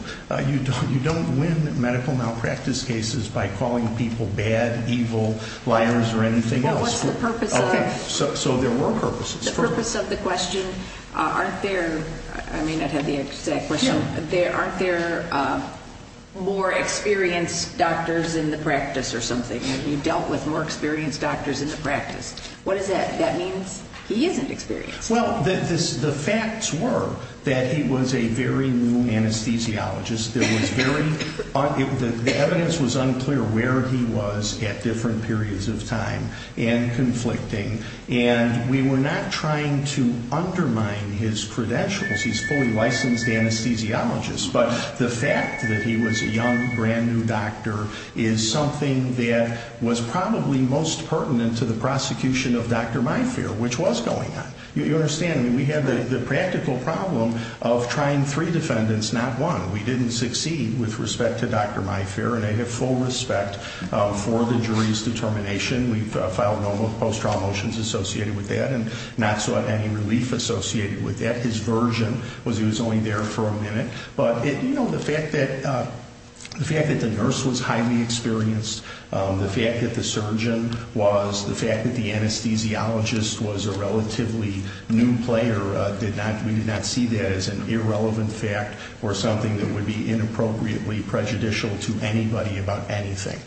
You don't win medical malpractice cases by calling people bad, evil, liars, or anything else. What's the purpose of- Okay, so there were purposes. The purpose of the question, aren't there, I may not have the exact question. Aren't there more experienced doctors in the practice or something? You dealt with more experienced doctors in the practice. What is that? That means he isn't experienced. Well, the facts were that he was a very new anesthesiologist. There was very, the evidence was unclear where he was at different periods of time and conflicting. And we were not trying to undermine his credentials. He's a fully licensed anesthesiologist. But the fact that he was a young, brand new doctor is something that was probably most pertinent to the prosecution of Dr. Myfair, which was going on. You understand, we had the practical problem of trying three defendants, not one. We didn't succeed with respect to Dr. Myfair, and I have full respect for the jury's determination. We've filed no post-trial motions associated with that, and not sought any relief associated with that. His version was he was only there for a minute. But the fact that the nurse was highly experienced, the fact that the surgeon was, the fact that the anesthesiologist was a relatively new player, we did not see that as an irrelevant fact or something that would be inappropriately prejudicial to anybody about anything.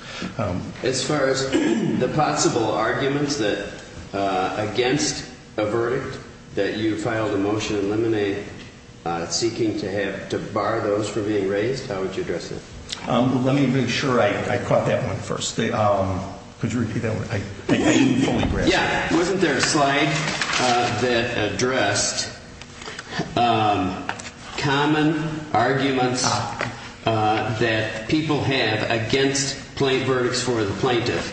As far as the possible arguments that against a verdict, that you filed a motion to eliminate seeking to have, to bar those from being raised, how would you address it? Let me make sure I caught that one first. Could you repeat that one? I didn't fully grasp it. Yeah, wasn't there a slide that addressed common arguments that people have against plain verdicts for the plaintiff?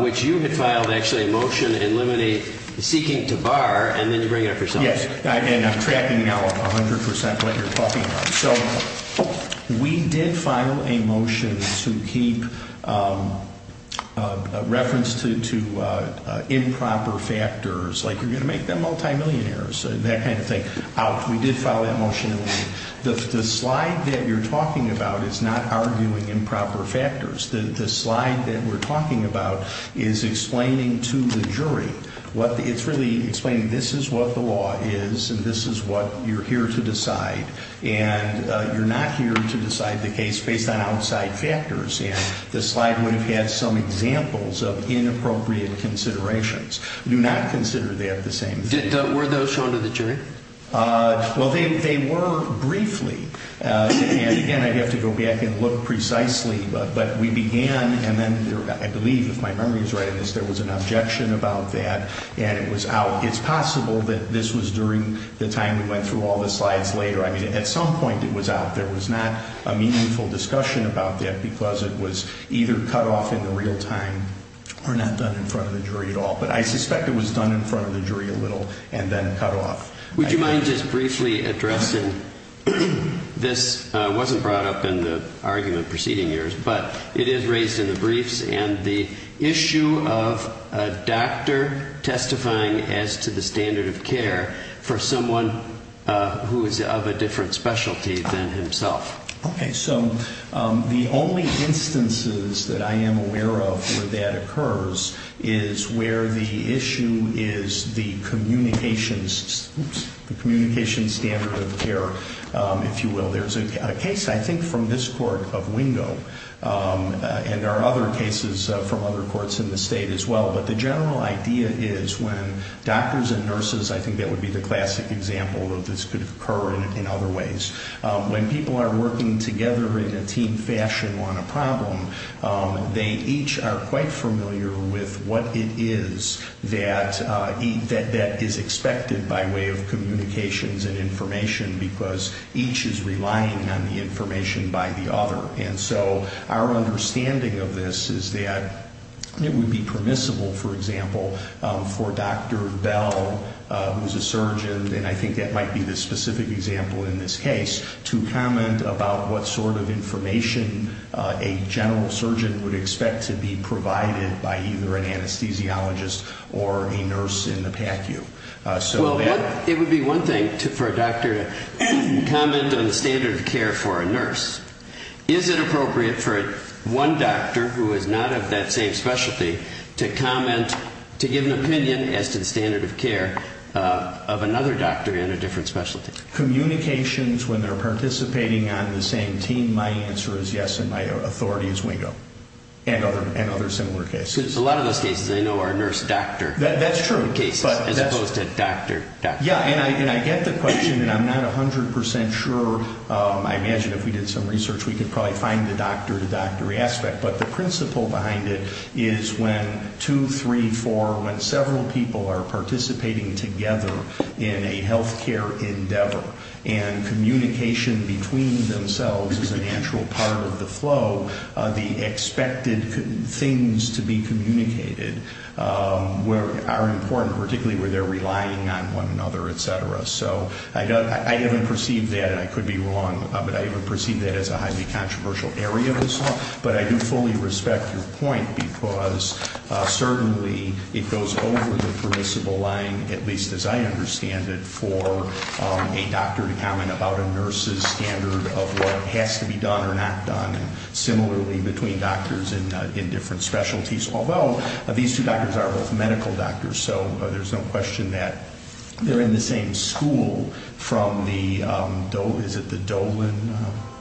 Which you had filed actually a motion to eliminate seeking to bar, and then you bring it up yourself. Yes, and I'm trapping now 100% what you're talking about. So we did file a motion to keep reference to improper factors, like you're going to make them multimillionaires. That kind of thing. We did file that motion. The slide that you're talking about is not arguing improper factors. The slide that we're talking about is explaining to the jury, it's really explaining this is what the law is, and this is what you're here to decide. And you're not here to decide the case based on outside factors, and the slide would have had some examples of inappropriate considerations. Do not consider that the same thing. Were those shown to the jury? Well, they were briefly. And again, I'd have to go back and look precisely. But we began, and then I believe, if my memory is right on this, there was an objection about that, and it was out. It's possible that this was during the time we went through all the slides later. I mean, at some point it was out. There was not a meaningful discussion about that because it was either cut off in the real time, or not done in front of the jury at all. But I suspect it was done in front of the jury a little, and then cut off. Would you mind just briefly addressing, this wasn't brought up in the argument preceding yours, but it is raised in the briefs, and the issue of a doctor testifying as to the standard of care for someone who is of a different specialty than himself. Okay, so the only instances that I am aware of where that occurs is where the issue is the communication standard of care, if you will. There's a case, I think, from this court of Wingo, and there are other cases from other courts in the state as well. But the general idea is when doctors and nurses, I think that would be the classic example of this could occur in other ways. When people are working together in a team fashion on a problem, they each are quite familiar with what it is that is expected by way of communications and information, because each is relying on the information by the other. And so our understanding of this is that it would be permissible, for example, for Dr. Bell, who's a surgeon, and I think that might be the specific example in this case, to comment about what sort of information a general surgeon would expect to be provided by either an anesthesiologist or a nurse in the PACU. So that- It would be one thing for a doctor to comment on the standard of care for a nurse. Is it appropriate for one doctor who is not of that same specialty to comment, to give an opinion as to the standard of care of another doctor in a different specialty? Communications, when they're participating on the same team, my answer is yes, and my authority is wingo. And other similar cases. A lot of those cases I know are nurse-doctor cases, as opposed to doctor-doctor. Yeah, and I get the question, and I'm not 100% sure. I imagine if we did some research, we could probably find the doctor-to-doctor aspect. But the principle behind it is when two, three, four, when several people are participating together in a healthcare endeavor, and communication between themselves is a natural part of the flow, the expected things to be communicated are important, particularly where they're relying on one another, etc. So I haven't perceived that, and I could be wrong, but I haven't perceived that as a highly controversial area of this law. But I do fully respect your point, because certainly it goes over the principle line, at least as I understand it, for a doctor to comment about a nurse's standard of what has to be done or not done. Similarly, between doctors in different specialties, although these two doctors are both medical doctors, so there's no question that they're in the same school from the, is it the Dolan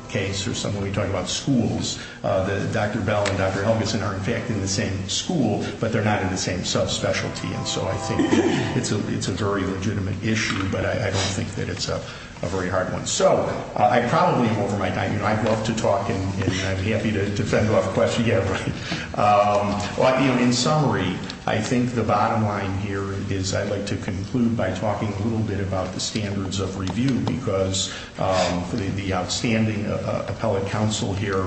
case? Or somebody talking about schools, that Dr. Bell and Dr. Helgeson are in fact in the same school, but they're not in the same subspecialty. And so I think it's a very legitimate issue, but I don't think that it's a very hard one. So I probably am over my time, and I'd love to talk, and I'd be happy to defend a lot of questions. Yeah, right. Well, in summary, I think the bottom line here is I'd like to conclude by talking a little bit about the standards of review. Because the outstanding appellate counsel here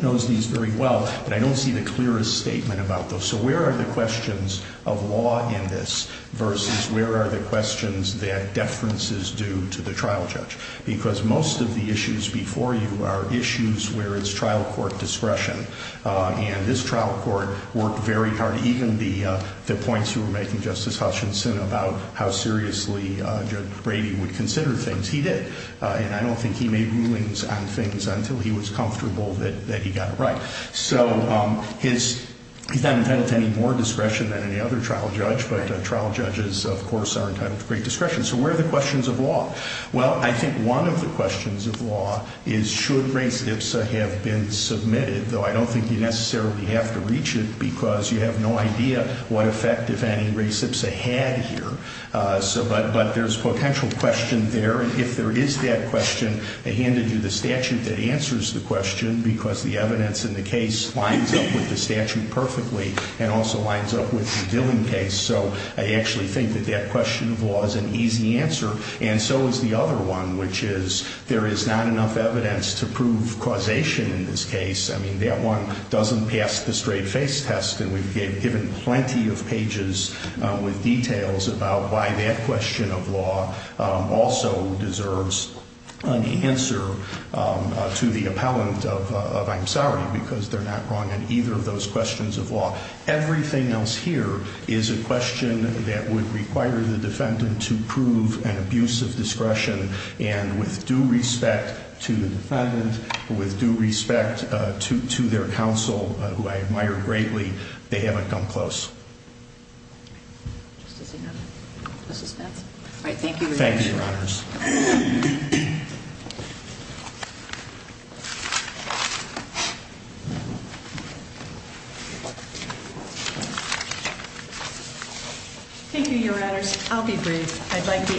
knows these very well, but I don't see the clearest statement about those. So where are the questions of law in this versus where are the questions that deference is due to the trial judge? Because most of the issues before you are issues where it's trial court discretion. And this trial court worked very hard, even the points you were making, Justice Hutchinson, about how seriously Judge Brady would consider things. He did, and I don't think he made rulings on things until he was comfortable that he got it right. So he's not entitled to any more discretion than any other trial judge, but trial judges, of course, aren't entitled to great discretion. So where are the questions of law? Well, I think one of the questions of law is should race IPSA have been submitted, though I don't think you necessarily have to reach it because you have no idea what effect if any race IPSA had here. But there's potential question there, and if there is that question, I handed you the statute that answers the question because the evidence in the case lines up with the statute perfectly. And also lines up with the billing case, so I actually think that that question of law is an easy answer. And so is the other one, which is there is not enough evidence to prove causation in this case. That one doesn't pass the straight face test, and we've given plenty of pages with details about why that question of law also deserves an answer to the appellant of I'm sorry, because they're not wrong in either of those questions of law. Everything else here is a question that would require the defendant to prove an abuse of discretion. And with due respect to the defendant, with due respect to their counsel, who I admire greatly, they haven't come close. All right, thank you, Your Honors. Thank you, Your Honors. I'll be brief. I'd like to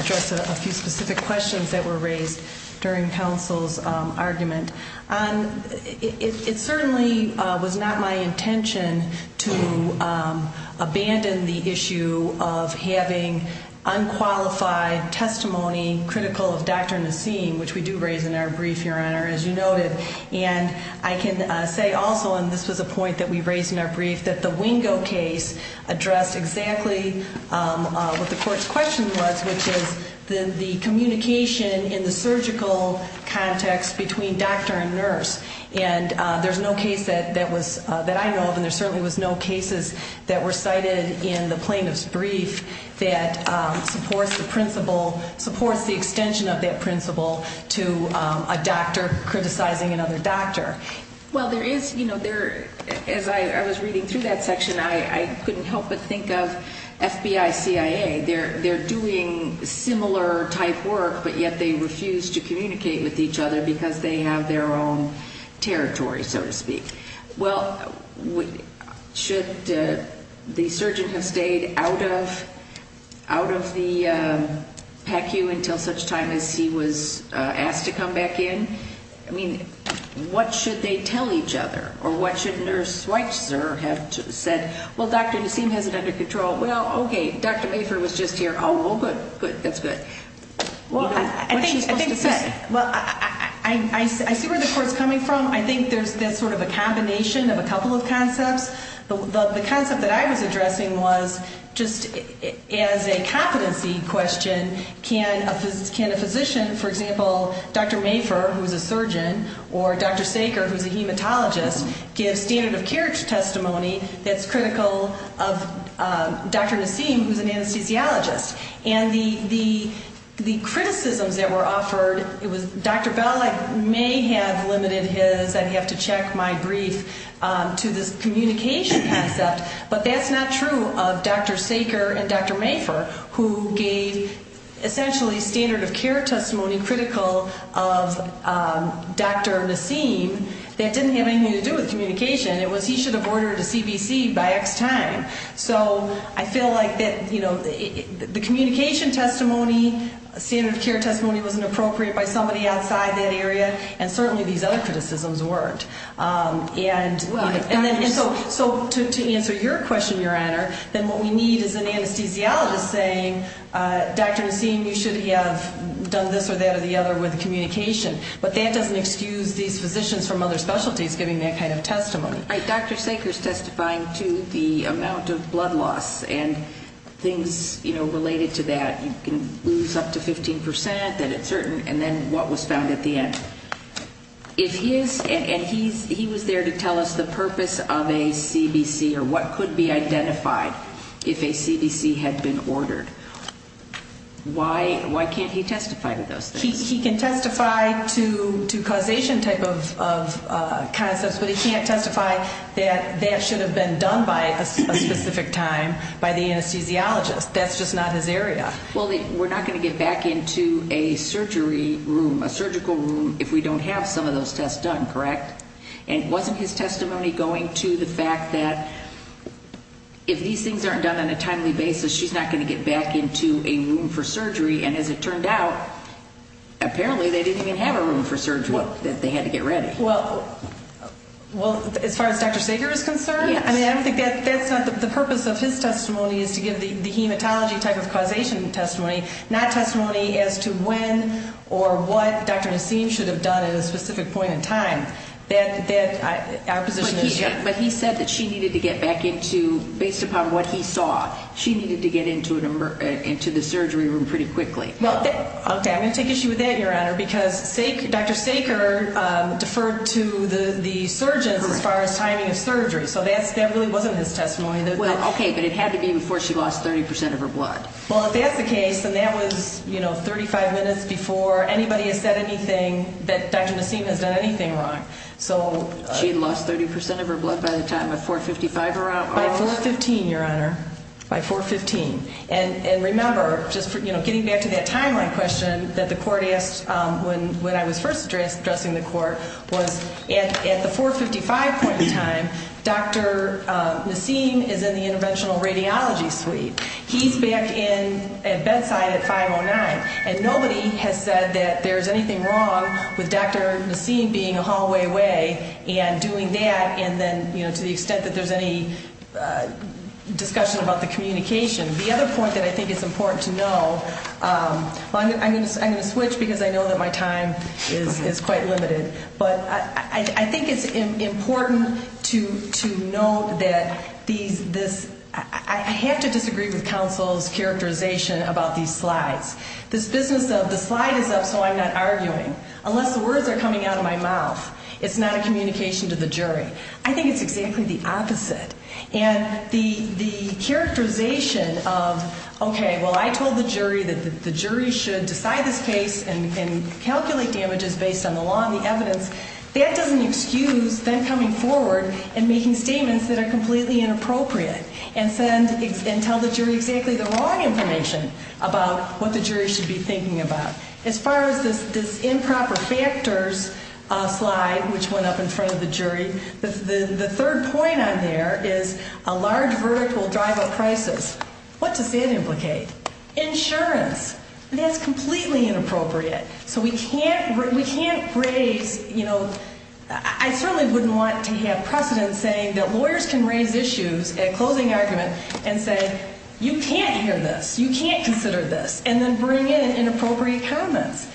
address a few specific questions that were raised during counsel's argument. It certainly was not my intention to abandon the issue of having unqualified testimony critical of Dr. Nassim, which we do raise in our brief, Your Honor, as you noted. And I can say also, and this was a point that we raised in our brief, that the Wingo case addressed exactly what the court's question was, which is the communication in the surgical context between doctor and nurse. And there's no case that I know of, and there certainly was no cases that were cited in the plaintiff's brief that supports the extension of that principle to a doctor criticizing another doctor. Well, there is, as I was reading through that section, I couldn't help but think of FBI, CIA. They're doing similar type work, but yet they refuse to communicate with each other, because they have their own territory, so to speak. Well, should the surgeon have stayed out of the PACU until such time as he was asked to come back in? I mean, what should they tell each other? Or what should Nurse Schweitzer have said? Well, Dr. Nassim has it under control. Well, okay, Dr. Mayford was just here. Oh, well, good, good, that's good. What's she supposed to say? Well, I see where the court's coming from. I think there's this sort of a combination of a couple of concepts. The concept that I was addressing was just as a competency question, can a physician, for example, Dr. Mayford, who's a surgeon, or Dr. Saker, who's a hematologist, give standard of care testimony that's critical of Dr. Nassim, who's an anesthesiologist? And the criticisms that were offered, it was Dr. Bell, I may have limited his, I'd have to check my brief, to this communication concept. But that's not true of Dr. Saker and Dr. Mayford, who gave essentially standard of care testimony critical of Dr. Nassim. That didn't have anything to do with communication. It was he should have ordered a CBC by X time. So I feel like that, you know, the communication testimony, standard of care testimony wasn't appropriate by somebody outside that area, and certainly these other criticisms weren't. And so to answer your question, Your Honor, then what we need is an anesthesiologist saying Dr. Nassim, you should have done this or that or the other with communication. But that doesn't excuse these physicians from other specialties giving that kind of testimony. Dr. Saker's testifying to the amount of blood loss and things, you know, related to that. You can lose up to 15% that it's certain, and then what was found at the end. If he is, and he was there to tell us the purpose of a CBC, or what could be identified if a CBC had been ordered, why can't he testify to those things? He can testify to causation type of concepts, but he can't testify that that should have been done by a specific time by the anesthesiologist. That's just not his area. Well, we're not going to get back into a surgery room, a surgical room, if we don't have some of those tests done, correct? And wasn't his testimony going to the fact that if these things aren't done on a timely basis, she's not going to get back into a room for surgery, and as it turned out, apparently they didn't even have a room for surgery that they had to get ready. Well, as far as Dr. Saker is concerned, I mean, I don't think that's not the purpose of his testimony is to give the hematology type of causation testimony, not testimony as to when or what Dr. Nassim should have done at a specific point in time. That, our position is different. But he said that she needed to get back into, based upon what he saw, she needed to get into the surgery room pretty quickly. Well, okay, I'm going to take issue with that, Your Honor, because Dr. Saker deferred to the surgeons as far as timing of surgery, so that really wasn't his testimony. Okay, but it had to be before she lost 30% of her blood. Well, if that's the case, then that was, you know, 35 minutes before anybody has said anything that Dr. Nassim has done anything wrong. She had lost 30% of her blood by the time of 4.55, Your Honor? By 4.15, Your Honor, by 4.15. And remember, just, you know, getting back to that timeline question that the court asked when I was first addressing the court was at the 4.55 point in time, Dr. Nassim is in the interventional radiology suite. He's back in at bedside at 5.09, and nobody has said that there's anything wrong with Dr. Nassim being a hallway away and doing that and then, you know, to the extent that there's any discussion about the communication. The other point that I think is important to know, well, I'm going to switch because I know that my time is quite limited, but I think it's important to note that these, this, I have to disagree with counsel's characterization about these slides. This business of the slide is up so I'm not arguing, unless the words are coming out of my mouth. It's not a communication to the jury. I think it's exactly the opposite. And the characterization of, okay, well, I told the jury that the jury should decide this case and calculate damages based on the law and the evidence. That doesn't excuse them coming forward and making statements that are completely inappropriate and tell the jury exactly the wrong information about what the jury should be thinking about. As far as this improper factors slide, which went up in front of the jury, the third point on there is a large verdict will drive a crisis. What does that implicate? Insurance. That's completely inappropriate. So we can't raise, you know, I certainly wouldn't want to have precedent saying that lawyers can raise issues at closing argument and say, you can't hear this, you can't consider this, and then bring in inappropriate comments.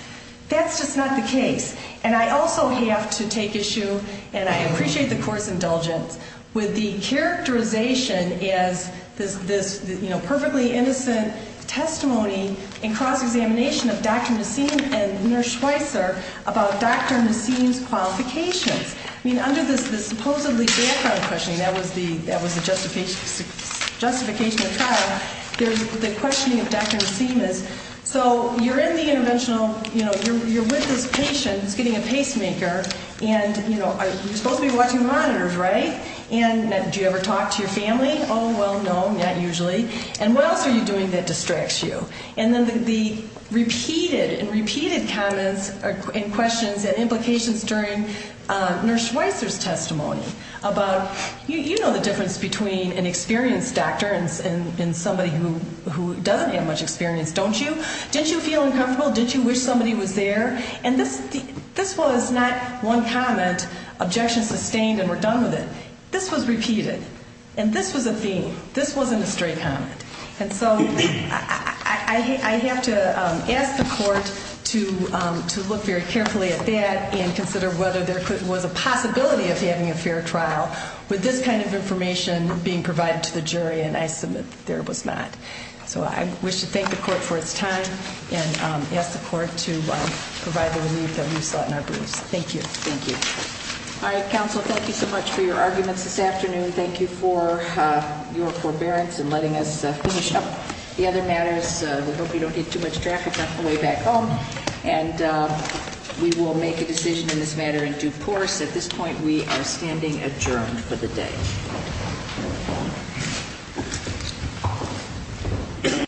That's just not the case. And I also have to take issue, and I appreciate the court's indulgence, with the characterization as this, you know, perfectly innocent testimony and cross-examination of Dr. Nassim and Nurse Schweitzer about Dr. Nassim's qualifications. I mean, under this supposedly background questioning, that was the justification of trial, the questioning of Dr. Nassim is, so you're in the interventional, you know, you're with this patient who's getting a pacemaker, and, you know, you're supposed to be watching monitors, right? And do you ever talk to your family? Oh, well, no, not usually. And what else are you doing that distracts you? And then the repeated and repeated comments and questions and implications during Nurse Schweitzer's testimony about, you know the difference between an experienced doctor and somebody who doesn't have much experience, don't you? Didn't you feel uncomfortable? Didn't you wish somebody was there? And this was not one comment, objections sustained and we're done with it. This was repeated, and this was a theme. This wasn't a straight comment. And so I have to ask the court to look very carefully at that and consider whether there was a possibility of having a fair trial with this kind of information being provided to the jury, and I submit there was not. So I wish to thank the court for its time and ask the court to provide the relief that we sought in our briefs. Thank you. Thank you. All right, counsel, thank you so much for your arguments this afternoon. Thank you for your forbearance in letting us finish up the other matters. We hope we don't get too much traffic on the way back home. And we will make a decision in this matter in due course. At this point, we are standing adjourned for the day. Thank you.